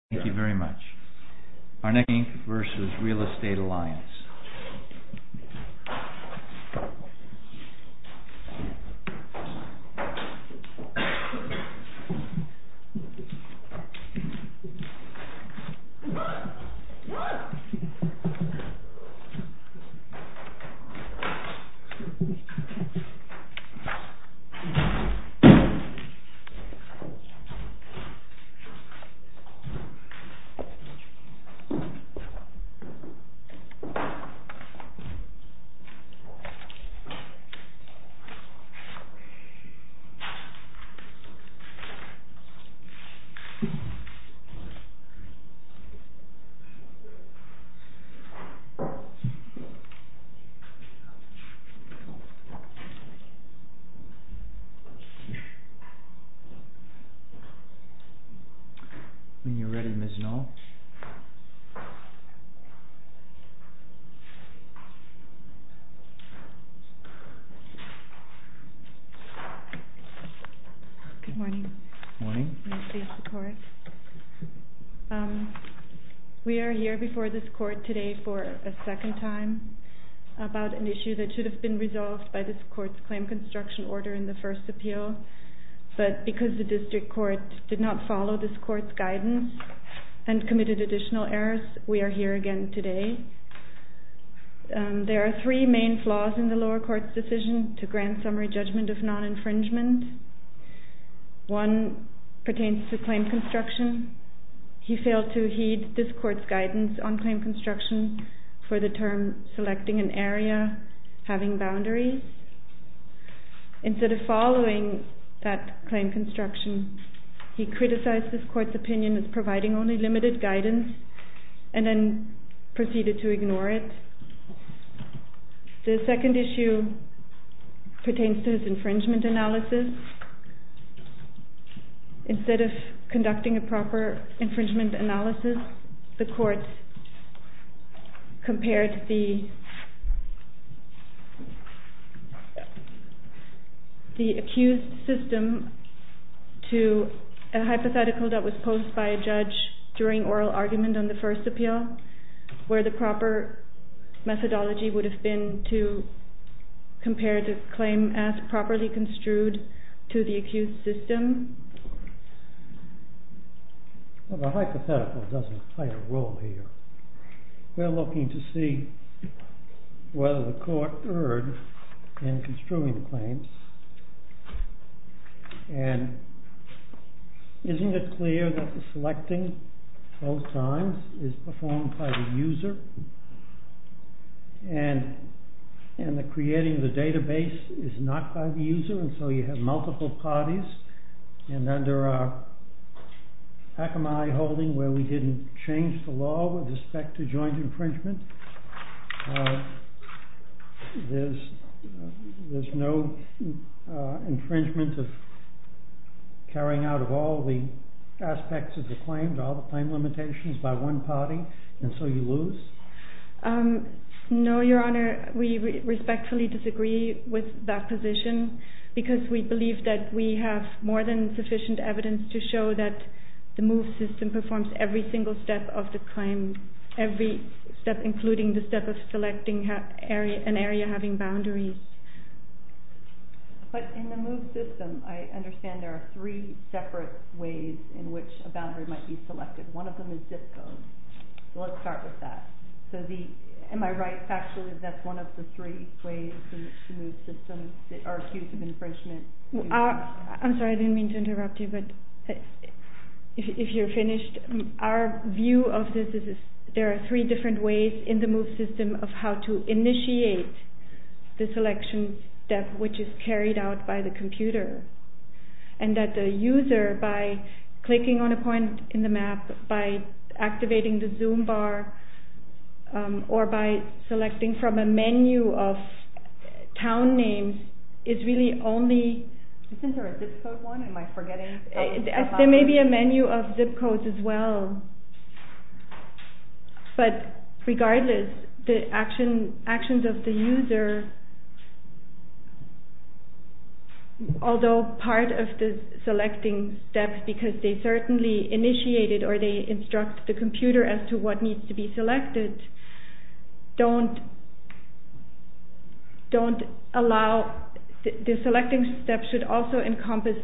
INC. v. REAL ESTATE ALLIANCE INC. v. REAL ESTATE ALLIANCE INC. v. REAL ESTATE ALLIANCE INC. v. REAL ESTATE ALLIANCE INC. v. REAL ESTATE ALLIANCE INC. v. REAL ESTATE ALLIANCE INC. v. REAL ESTATE ALLIANCE INC. v. REAL ESTATE ALLIANCE INC. v. REAL ESTATE ALLIANCE INC. v. REAL ESTATE ALLIANCE as to what needs to be selected, the selecting steps should also encompass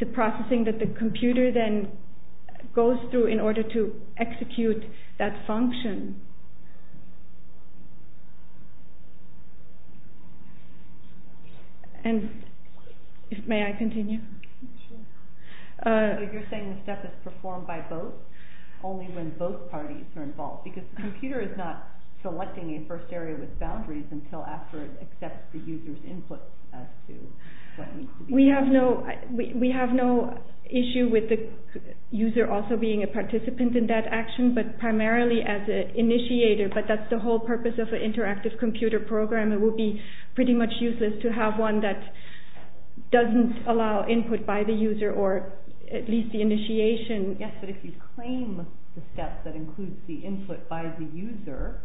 the processing that the computer then goes through in order to execute that function. And may I continue? So you're saying the step is performed by both, only when both parties are involved? Because the computer is not selecting a first area with boundaries until after it accepts the user's input as to what needs to be done. We have no issue with the user also being a participant in that action, but primarily as an initiator, but that's the whole purpose of an interactive computer program. It would be pretty much useless to have one that doesn't allow input by the user or at least the initiation. Yes, but if you claim the step that includes the input by the user,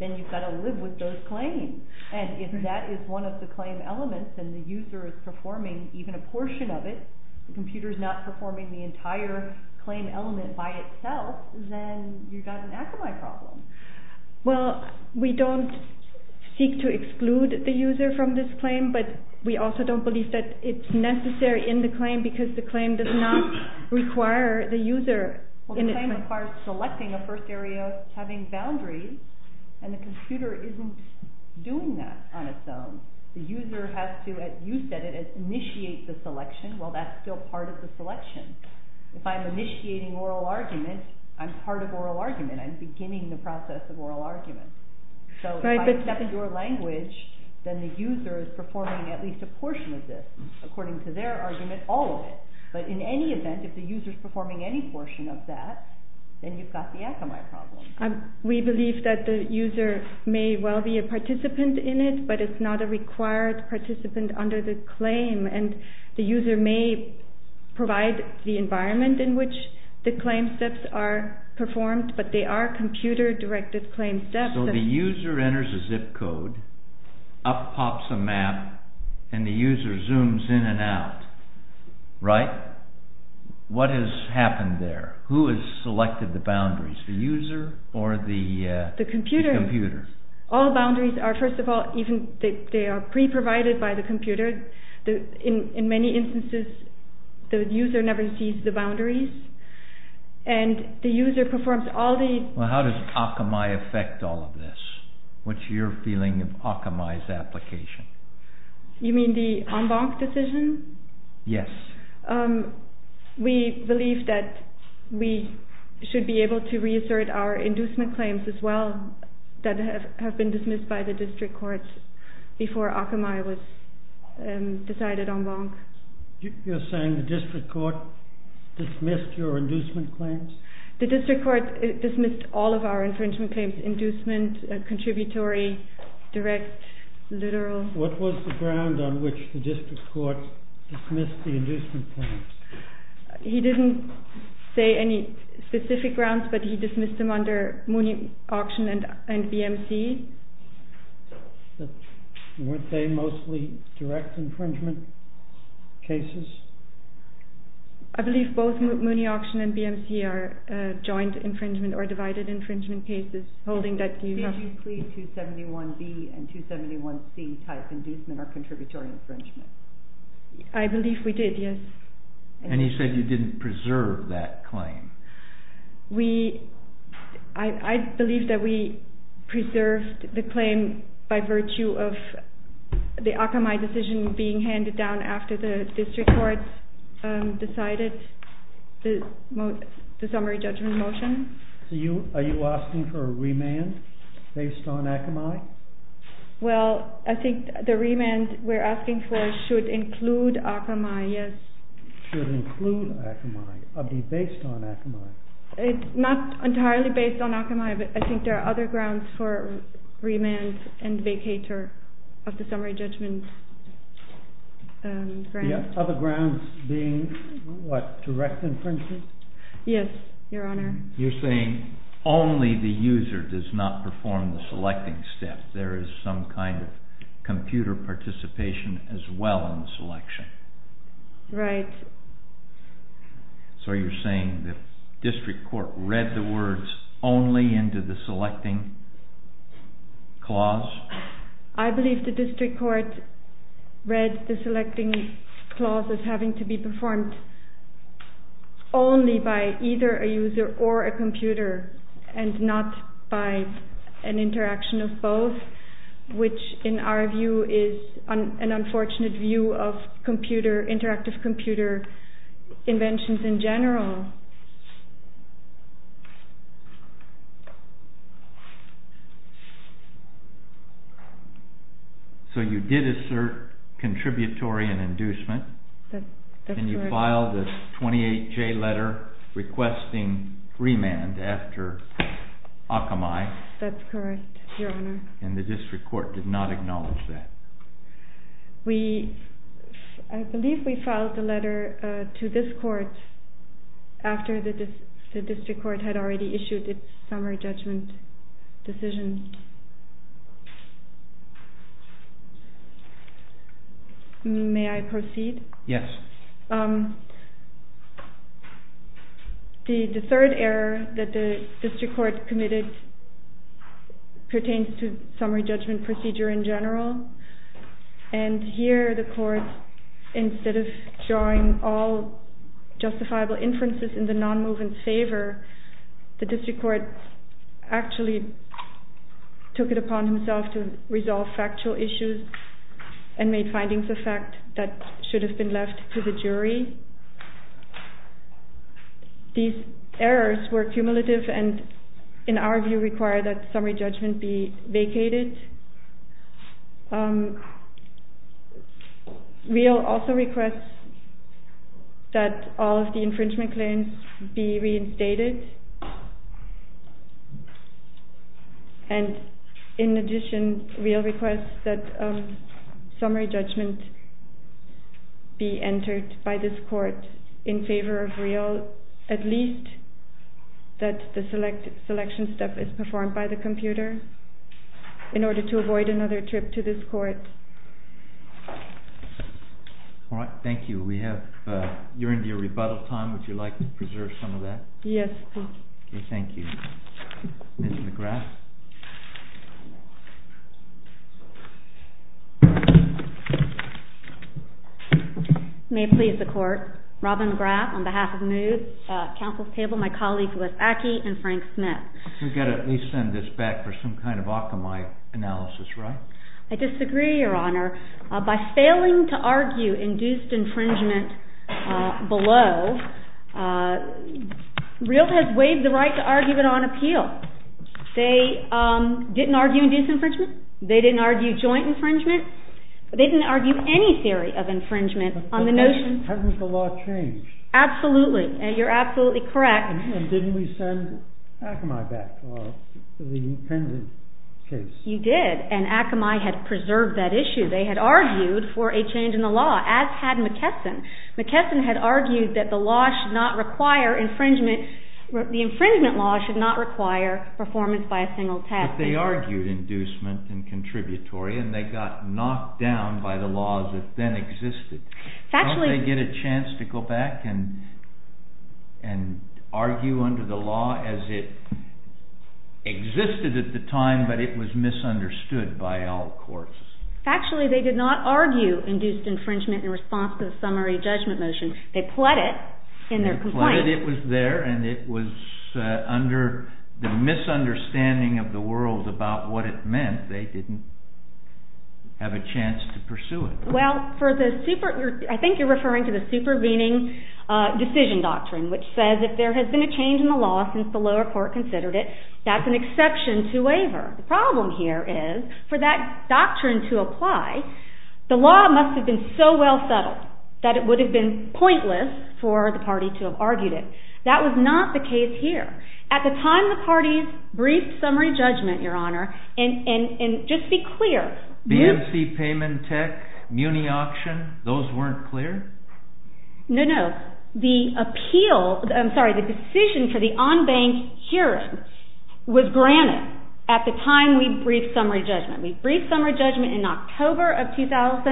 then you've got to live with those claims. And if that is one of the claim elements and the user is performing even a portion of it, the computer is not performing the entire claim element by itself, then you've got an Akamai problem. Well, we don't seek to exclude the user from this claim, but we also don't believe that it's necessary in the claim because the claim does not require the user in it. Well, the claim requires selecting a first area, having boundaries, and the computer isn't doing that on its own. The user has to, as you said, initiate the selection while that's still part of the selection. If I'm initiating oral argument, I'm part of oral argument, I'm beginning the process of oral argument. So if I step into a language, then the user is performing at least a portion of this, according to their argument, all of it. But in any event, if the user is performing any portion of that, then you've got the Akamai problem. We believe that the user may well be a participant in it, but it's not a required participant under the claim, and the user may provide the environment in which the claim steps are performed, but they are computer-directed claim steps. So the user enters a zip code, up pops a map, and the user zooms in and out, right? What has happened there? Who has selected the boundaries, the user or the computer? All boundaries are, first of all, they are pre-provided by the computer. In many instances, the user never sees the boundaries, and the user performs all the... Well, how does Akamai affect all of this? What's your feeling of Akamai's application? You mean the en banc decision? Yes. We believe that we should be able to reassert our inducement claims as well, that have been dismissed by the district courts before Akamai was decided en banc. You're saying the district court dismissed your inducement claims? The district court dismissed all of our infringement claims, inducement, contributory, direct, literal. What was the ground on which the district court dismissed the inducement claims? He didn't say any specific grounds, but he dismissed them under Mooney Auction and BMC. Weren't they mostly direct infringement cases? I believe both Mooney Auction and BMC are joint infringement or divided infringement cases, holding that you have... I believe we did, yes. And he said you didn't preserve that claim. I believe that we preserved the claim by virtue of the Akamai decision being handed down after the district court decided the summary judgment motion. Are you asking for a remand based on Akamai? Well, I think the remand we're asking for should include Akamai, yes. Should include Akamai, or be based on Akamai? Not entirely based on Akamai, but I think there are other grounds for remand and vacatur of the summary judgment grant. Other grounds being what, direct infringement? Yes, Your Honor. You're saying only the user does not perform the selecting step. There is some kind of computer participation as well in the selection. Right. So you're saying the district court read the words only into the selecting clause? I believe the district court read the selecting clause as having to be performed only by either a user or a computer and not by an interaction of both, which in our view is an unfortunate view of interactive computer inventions in general. So you did assert contributory and inducement. That's correct. And you filed a 28-J letter requesting remand after Akamai. That's correct, Your Honor. And the district court did not acknowledge that. I believe we filed the letter to this court after the district court had already issued its summary judgment decision. May I proceed? Yes. The third error that the district court committed pertains to summary judgment procedure in general. And here the court, instead of drawing all justifiable inferences in the non-movement's favor, the district court actually took it upon himself to resolve factual issues and made findings of fact that should have been left to the jury. These errors were cumulative and in our view require that summary judgment be vacated. Real also requests that all of the infringement claims be reinstated. And in addition, real requests that summary judgment be entered by this court in favor of real, at least that the selection step is performed by the computer. In order to avoid another trip to this court. All right. Thank you. You're into your rebuttal time. Would you like to preserve some of that? Yes, please. Thank you. Ms. McGrath? May it please the court. Robin McGrath on behalf of MOVES, Counsel's Table, my colleagues Liz Ackie and Frank Smith. We've got to at least send this back for some kind of Akamai analysis, right? I disagree, Your Honor. By failing to argue induced infringement below, real has waived the right to argue it on appeal. They didn't argue induced infringement. They didn't argue joint infringement. They didn't argue any theory of infringement on the notion. But hasn't the law changed? Absolutely. You're absolutely correct. And didn't we send Akamai back for the Penzance case? You did. And Akamai had preserved that issue. They had argued for a change in the law, as had McKesson. McKesson had argued that the law should not require infringement. The infringement law should not require performance by a single task. But they argued inducement and contributory, and they got knocked down by the laws that then existed. Don't they get a chance to go back and argue under the law as it existed at the time, but it was misunderstood by all courts? Factually, they did not argue induced infringement in response to the summary judgment motion. They pled it in their complaint. They pled it. It was there, and it was under the misunderstanding of the world about what it meant. They didn't have a chance to pursue it. Well, I think you're referring to the supervening decision doctrine, which says if there has been a change in the law since the lower court considered it, that's an exception to waiver. The problem here is for that doctrine to apply, the law must have been so well settled that it would have been pointless for the party to have argued it. That was not the case here. At the time the party's brief summary judgment, Your Honor, and just be clear. BMC Payment Tech, Muni Auction, those weren't clear? No, no. The decision for the on-bank hearing was granted at the time we briefed summary judgment. We briefed summary judgment in October of 2012.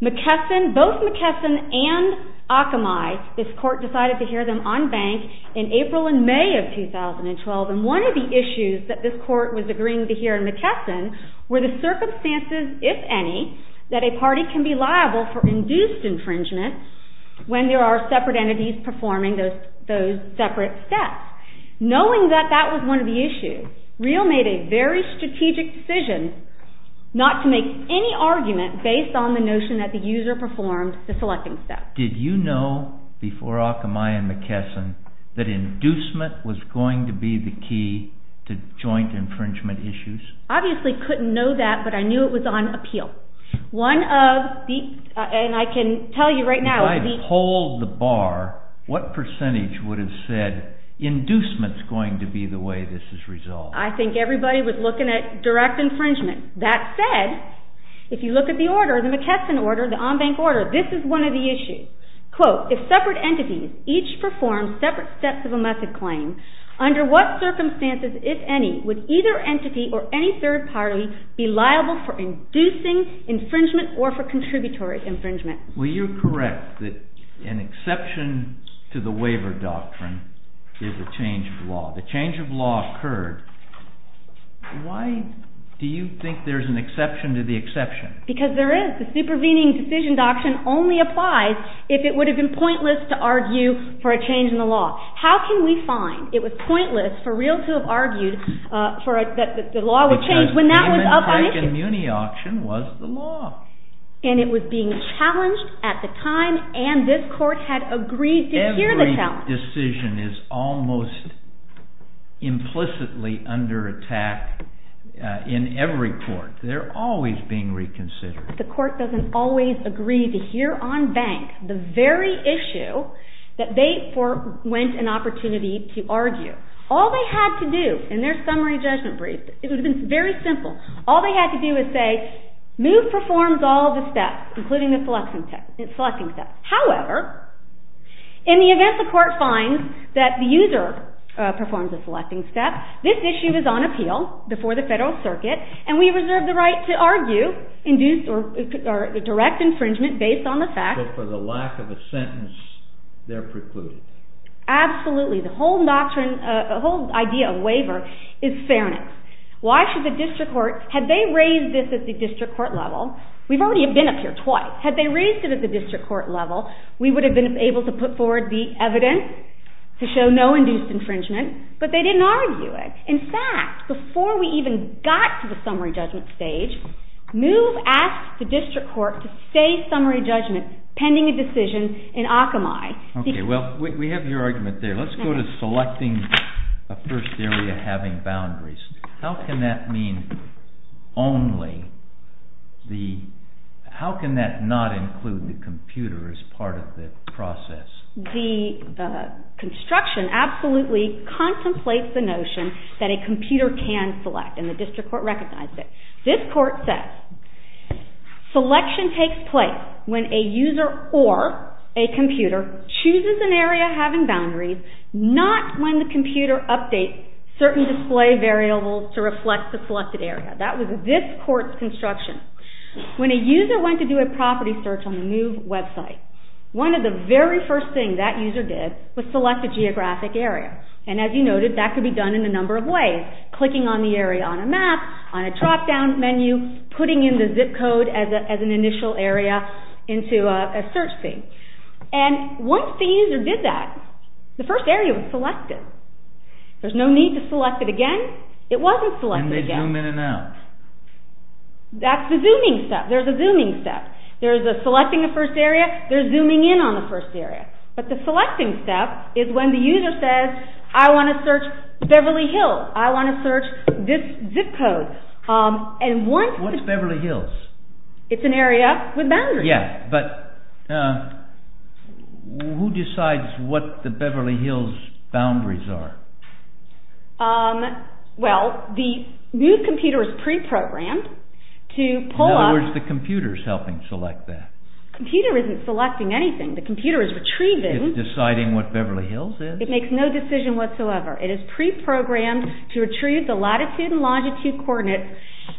Both McKesson and Akamai, this court decided to hear them on bank in April and May of 2012, and one of the issues that this court was agreeing to hear in McKesson were the circumstances, if any, that a party can be liable for induced infringement when there are separate entities performing those separate steps. Knowing that that was one of the issues, Reel made a very strategic decision not to make any argument based on the notion that the user performed the selecting steps. Did you know before Akamai and McKesson that inducement was going to be the key to joint infringement issues? Obviously couldn't know that, but I knew it was on appeal. If I pulled the bar, what percentage would have said inducement is going to be the way this is resolved? I think everybody was looking at direct infringement. That said, if you look at the order, the McKesson order, the on-bank order, this is one of the issues. Quote, if separate entities each perform separate steps of a method claim, under what circumstances, if any, would either entity or any third party be liable for inducing infringement or for contributory infringement? Will you correct that an exception to the waiver doctrine is a change of law? The change of law occurred. Why do you think there's an exception to the exception? Because there is. The supervening decision doctrine only applies if it would have been pointless to argue for a change in the law. How can we find it was pointless for Reel to have argued that the law was changed when that was up on issue? Because the Amantek and Muni auction was the law. And it was being challenged at the time, and this court had agreed to hear the challenge. The court decision is almost implicitly under attack in every court. They're always being reconsidered. The court doesn't always agree to hear on bank the very issue that they went an opportunity to argue. All they had to do in their summary judgment brief, it would have been very simple, all they had to do was say, move performs all the steps, including the selecting steps. However, in the event the court finds that the user performs the selecting steps, this issue is on appeal before the federal circuit, and we reserve the right to argue, induce or direct infringement based on the facts. But for the lack of a sentence, they're precluded. Absolutely. The whole idea of waiver is fairness. Why should the district court, had they raised this at the district court level, we've already been up here twice. Well, had they raised it at the district court level, we would have been able to put forward the evidence to show no induced infringement, but they didn't argue it. In fact, before we even got to the summary judgment stage, move asked the district court to say summary judgment pending a decision in Akamai. Okay, well, we have your argument there. Let's go to selecting a first area having boundaries. How can that mean only the, how can that not include the computer as part of the process? The construction absolutely contemplates the notion that a computer can select, and the district court recognized it. This court says selection takes place when a user or a computer chooses an area having boundaries, not when the computer updates certain display variables to reflect the selected area. That was this court's construction. When a user went to do a property search on the move website, one of the very first things that user did was select a geographic area, and as you noted, that could be done in a number of ways, clicking on the area on a map, on a dropdown menu, putting in the zip code as an initial area into a search field. And once the user did that, the first area was selected. There's no need to select it again. It wasn't selected again. And they zoom in and out. That's the zooming step. There's a zooming step. There's a selecting a first area. There's zooming in on the first area. But the selecting step is when the user says, I want to search Beverly Hills. I want to search this zip code. What is Beverly Hills? It's an area with boundaries. Yeah, but who decides what the Beverly Hills boundaries are? Well, the new computer is preprogrammed to pull up. In other words, the computer is helping select that. The computer isn't selecting anything. The computer is retrieving. It's deciding what Beverly Hills is. It makes no decision whatsoever. It is preprogrammed to retrieve the latitude and longitude coordinates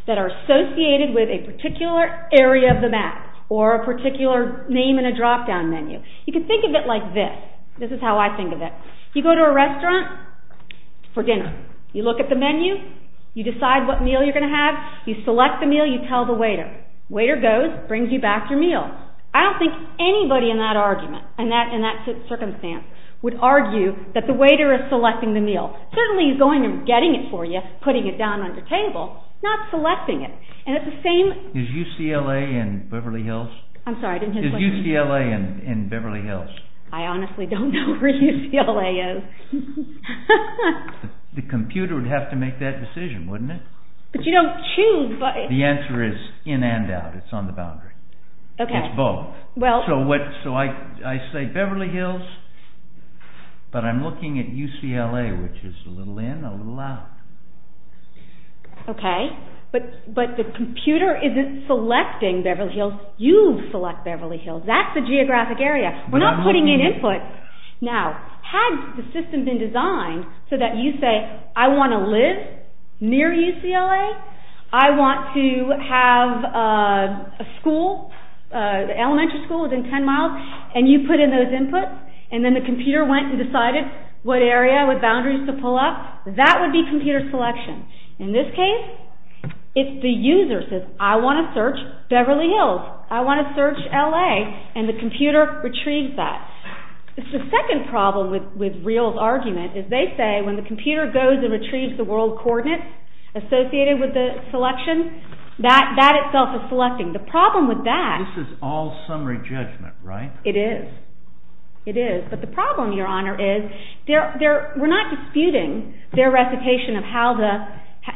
that are associated with a particular area of the map or a particular name in a drop-down menu. You can think of it like this. This is how I think of it. You go to a restaurant for dinner. You look at the menu. You decide what meal you're going to have. You select the meal. You tell the waiter. Waiter goes, brings you back your meal. I don't think anybody in that argument, in that circumstance, would argue that the waiter is selecting the meal. Certainly he's going and getting it for you, but he's just putting it down on the table, not selecting it. Is UCLA in Beverly Hills? I'm sorry, I didn't hear the question. Is UCLA in Beverly Hills? I honestly don't know where UCLA is. The computer would have to make that decision, wouldn't it? But you don't choose. The answer is in and out. It's on the boundary. It's both. So I say Beverly Hills, but I'm looking at UCLA, which is a little in, a little out. Okay. But the computer isn't selecting Beverly Hills. You select Beverly Hills. That's the geographic area. We're not putting in input. Now, had the system been designed so that you say, I want to live near UCLA, I want to have a school, an elementary school within 10 miles, and you put in those inputs, and then the computer went and decided what area with boundaries to pull up, that would be computer selection. In this case, if the user says, I want to search Beverly Hills, I want to search LA, and the computer retrieves that. It's the second problem with Reel's argument, is they say when the computer goes and retrieves the world coordinates associated with the selection, that itself is selecting. The problem with that... It's summary judgment, right? It is. It is. But the problem, Your Honor, is we're not disputing their recitation of how the,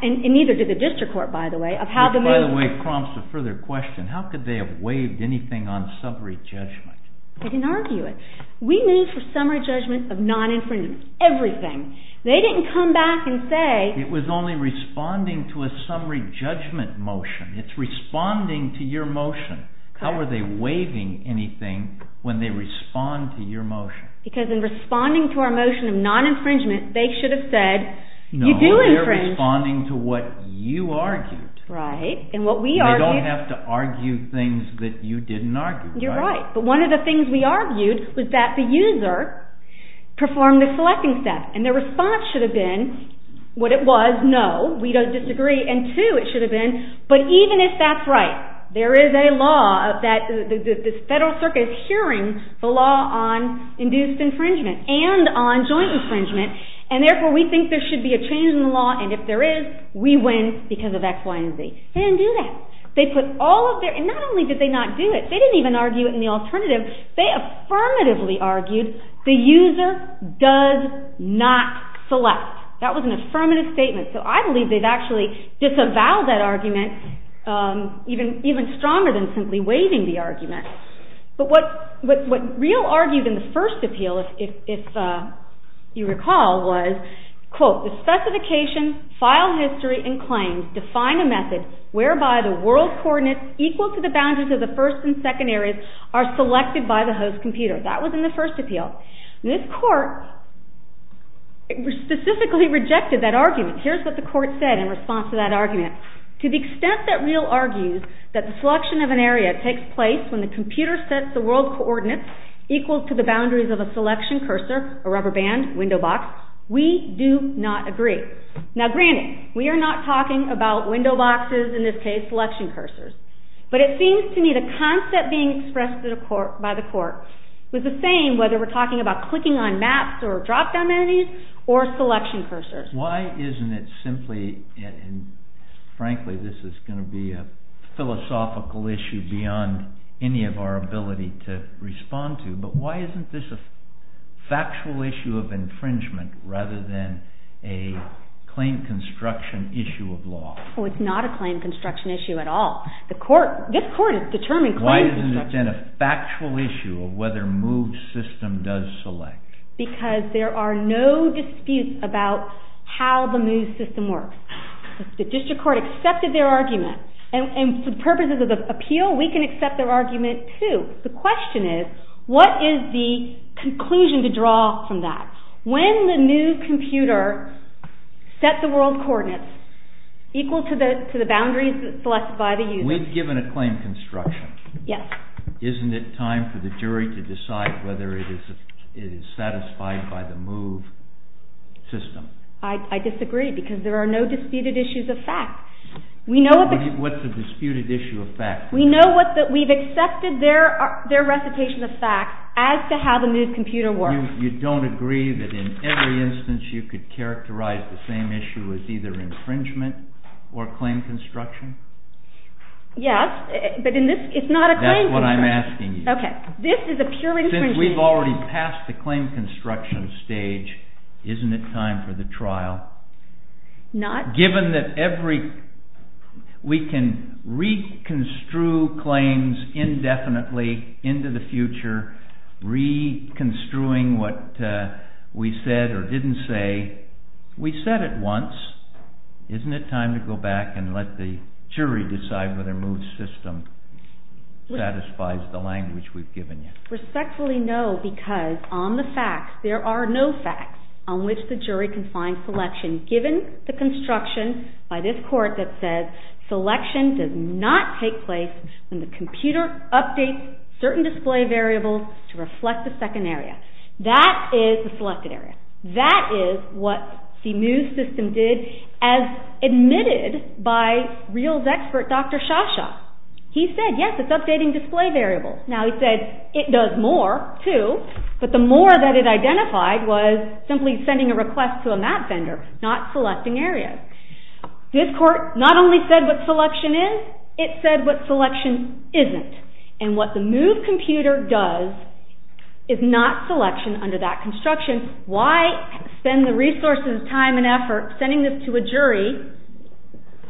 and neither did the district court, by the way, of how the move... Which, by the way, prompts a further question. How could they have waived anything on summary judgment? I can argue it. We moved for summary judgment of non-infringement. Everything. They didn't come back and say... It was only responding to a summary judgment motion. It's responding to your motion. How are they waiving anything when they respond to your motion? Because in responding to our motion of non-infringement, they should have said, you do infringe... No, they're responding to what you argued. Right, and what we argued... They don't have to argue things that you didn't argue. You're right. But one of the things we argued was that the user performed the selecting step, and their response should have been what it was, no, we don't disagree, and two, it should have been, but even if that's right, there is a law that the Federal Circuit is hearing the law on induced infringement and on joint infringement, and therefore we think there should be a change in the law, and if there is, we win because of X, Y, and Z. They didn't do that. They put all of their... And not only did they not do it, they didn't even argue it in the alternative. They affirmatively argued the user does not select. That was an affirmative statement. So I believe they've actually disavowed that argument even stronger than simply waiving the argument. But what Rio argued in the first appeal, if you recall, was, quote, the specification, file history, and claims define a method whereby the world coordinates equal to the boundaries of the first and second areas are selected by the host computer. That was in the first appeal. This court specifically rejected that argument. Here's what the court said in response to that argument. To the extent that Rio argues that the selection of an area takes place when the computer sets the world coordinates equal to the boundaries of a selection cursor, a rubber band, window box, we do not agree. Now, granted, we are not talking about window boxes, in this case, selection cursors. But it seems to me the concept being expressed by the court was the same whether we're talking about clicking on maps or drop-down menus or selection cursors. Why isn't it simply, and frankly, this is going to be a philosophical issue beyond any of our ability to respond to, but why isn't this a factual issue of infringement rather than a claim construction issue of law? Well, it's not a claim construction issue at all. This court has determined claim construction. Why isn't it then a factual issue of whether move system does select? Because there are no disputes about how the move system works. The district court accepted their argument, and for purposes of appeal, we can accept their argument too. The question is, what is the conclusion to draw from that? When the new computer set the world coordinates equal to the boundaries selected by the user... We've given a claim construction. Yes. Isn't it time for the jury to decide whether it is satisfied by the move system? I disagree, because there are no disputed issues of fact. What's a disputed issue of fact? We've accepted their recitation of fact as to how the move computer works. You don't agree that in every instance you could characterize the same issue as either infringement or claim construction? Yes, but it's not a claim... That's what I'm asking you. This is a pure infringement. Since we've already passed the claim construction stage, isn't it time for the trial? Not... Given that every... We can re-construe claims indefinitely into the future, re-construing what we said or didn't say. We said it once. Isn't it time to go back and let the jury decide whether move system satisfies the language we've given you? Respectfully, no, because on the facts, there are no facts on which the jury can find selection, given the construction by this court that says selection does not take place when the computer updates certain display variables to reflect the second area. That is the selected area. That is what the move system did as admitted by Reals expert Dr. Shasha. He said, yes, it's updating display variables. Now, he said it does more, too, but the more that it identified was simply sending a request to a map vendor, not selecting areas. This court not only said what selection is, it said what selection isn't, and what the move computer does is not selection under that construction. Why spend the resources, time and effort sending this to a jury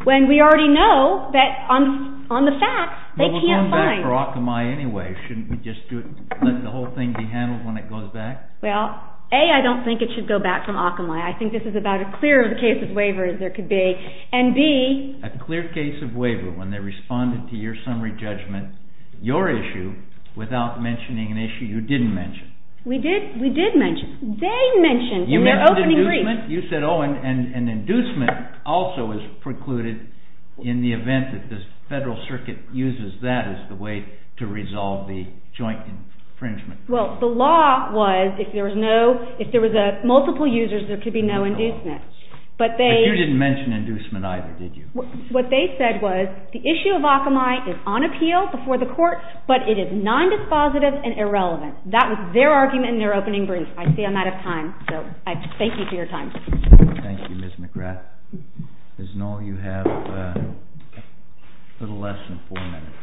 when we already know that on the facts, they can't find... It's for Akamai anyway. Shouldn't we just let the whole thing be handled when it goes back? Well, A, I don't think it should go back from Akamai. I think this is about as clear a case of waiver as there could be, and B... A clear case of waiver when they responded to your summary judgment, your issue, without mentioning an issue you didn't mention. We did mention. They mentioned in their opening brief. You mentioned inducement. You said, oh, and inducement also is precluded in the event that the Federal Circuit uses that as the way to resolve the joint infringement. Well, the law was if there was no... If there was multiple users, there could be no inducement. But they... But you didn't mention inducement either, did you? What they said was the issue of Akamai is on appeal before the court, but it is non-dispositive and irrelevant. That was their argument in their opening brief. I see I'm out of time, so I thank you for your time. Thank you, Ms. McGrath. Ms. Knoll, you have a little less than 4 minutes.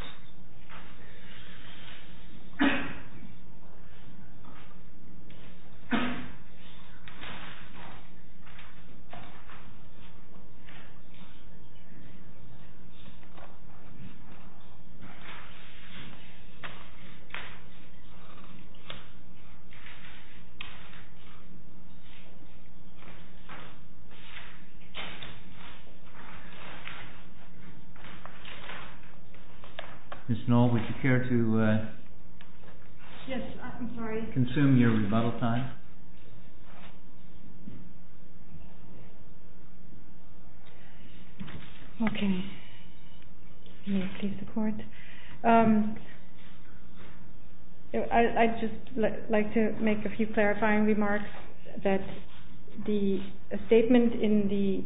Ms. Knoll, would you care to... Yes. I'm sorry. Consume your rebuttal time? Okay. May I please support? I'd just like to make a few clarifying remarks that the statement in the...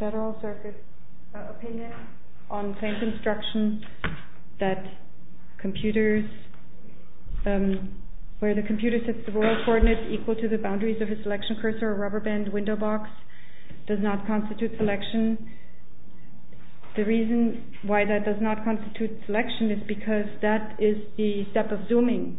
Federal Circuit opinion on claims instruction that computers... Where the computer sets the world coordinates equal to the boundaries of its selection cursor or rubber band window box does not constitute selection. The reason why that does not constitute selection is because that is the step of zooming.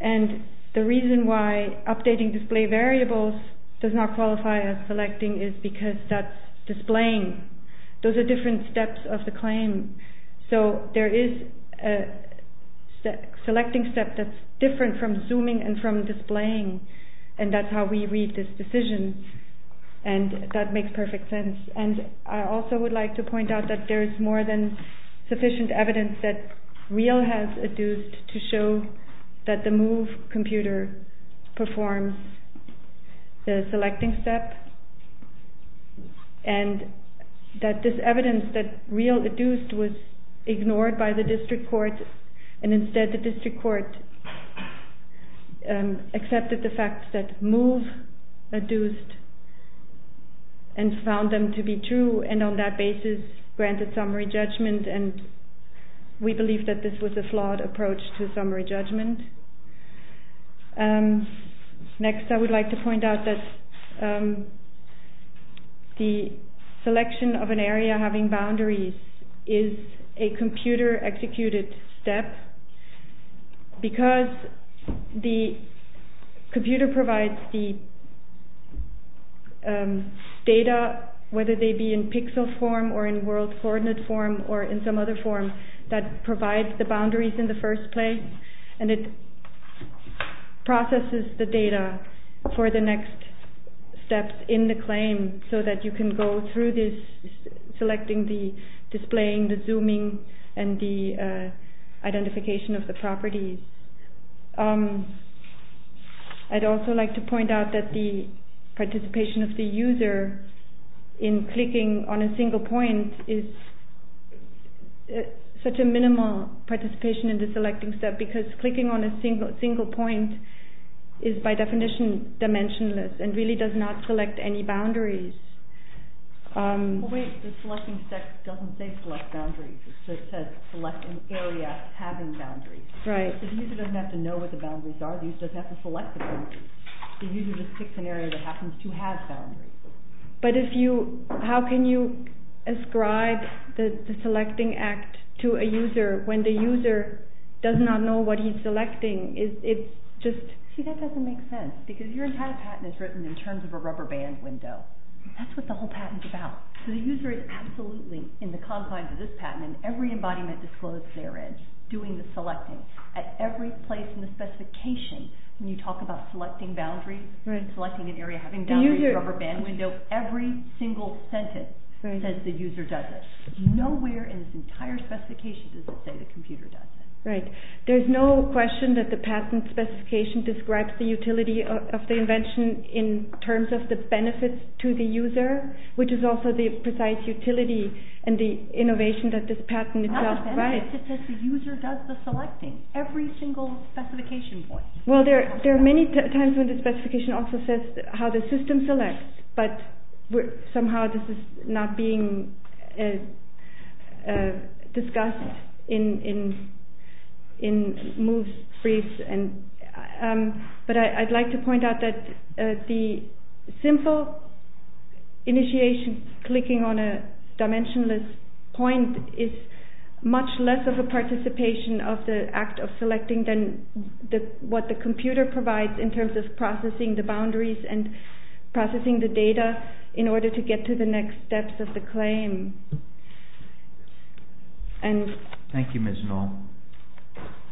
And the reason why updating display variables does not qualify as selecting is because that's displaying. Those are different steps of the claim. So there is a selecting step that's different from zooming and from displaying, and that's how we read this decision. And that makes perfect sense. And I also would like to point out that there is more than sufficient evidence that Real has adduced to show that the Move computer performs the selecting step and that this evidence that Real adduced was ignored by the district court and instead the district court accepted the fact that Move adduced and found them to be true and on that basis granted summary judgment. And we believe that this was a flawed approach to summary judgment. Next I would like to point out that the selection of an area having boundaries is a computer-executed step because the computer provides the data, whether they be in pixel form or in world coordinate form or in some other form, that provides the boundaries in the first place and it processes the data for the next steps in the claim so that you can go through this selecting, the displaying, the zooming and the identification of the properties. I'd also like to point out that the participation of the user in clicking on a single point is such a minimal participation in the selecting step because clicking on a single point is by definition dimensionless and really does not select any boundaries. Wait, the selecting step doesn't say select boundaries, it says select an area having boundaries. So the user doesn't have to know what the boundaries are, the user doesn't have to select the boundaries, the user just picks an area that happens to have boundaries. But how can you ascribe the selecting act to a user when the user does not know what he's selecting? See, that doesn't make sense because your entire patent is written in terms of a rubber band window. That's what the whole patent is about. So the user is absolutely in the confines of this patent and every embodiment disclosed therein, doing the selecting at every place in the specification. When you talk about selecting boundaries, selecting an area having boundaries, rubber band window, every single sentence says the user does it. Nowhere in this entire specification does it say the computer does it. There's no question that the patent specification describes the utility of the invention in terms of the benefits to the user, which is also the precise utility and the innovation that this patent itself provides. Not the benefits, it says the user does the selecting. Every single specification point. Well, there are many times when the specification also says how the system selects, but somehow this is not being discussed in MOOCs. But I'd like to point out that the simple initiation, clicking on a dimensionless point, what the computer provides in terms of processing the boundaries and processing the data in order to get to the next steps of the claim. Thank you, Ms. Noll.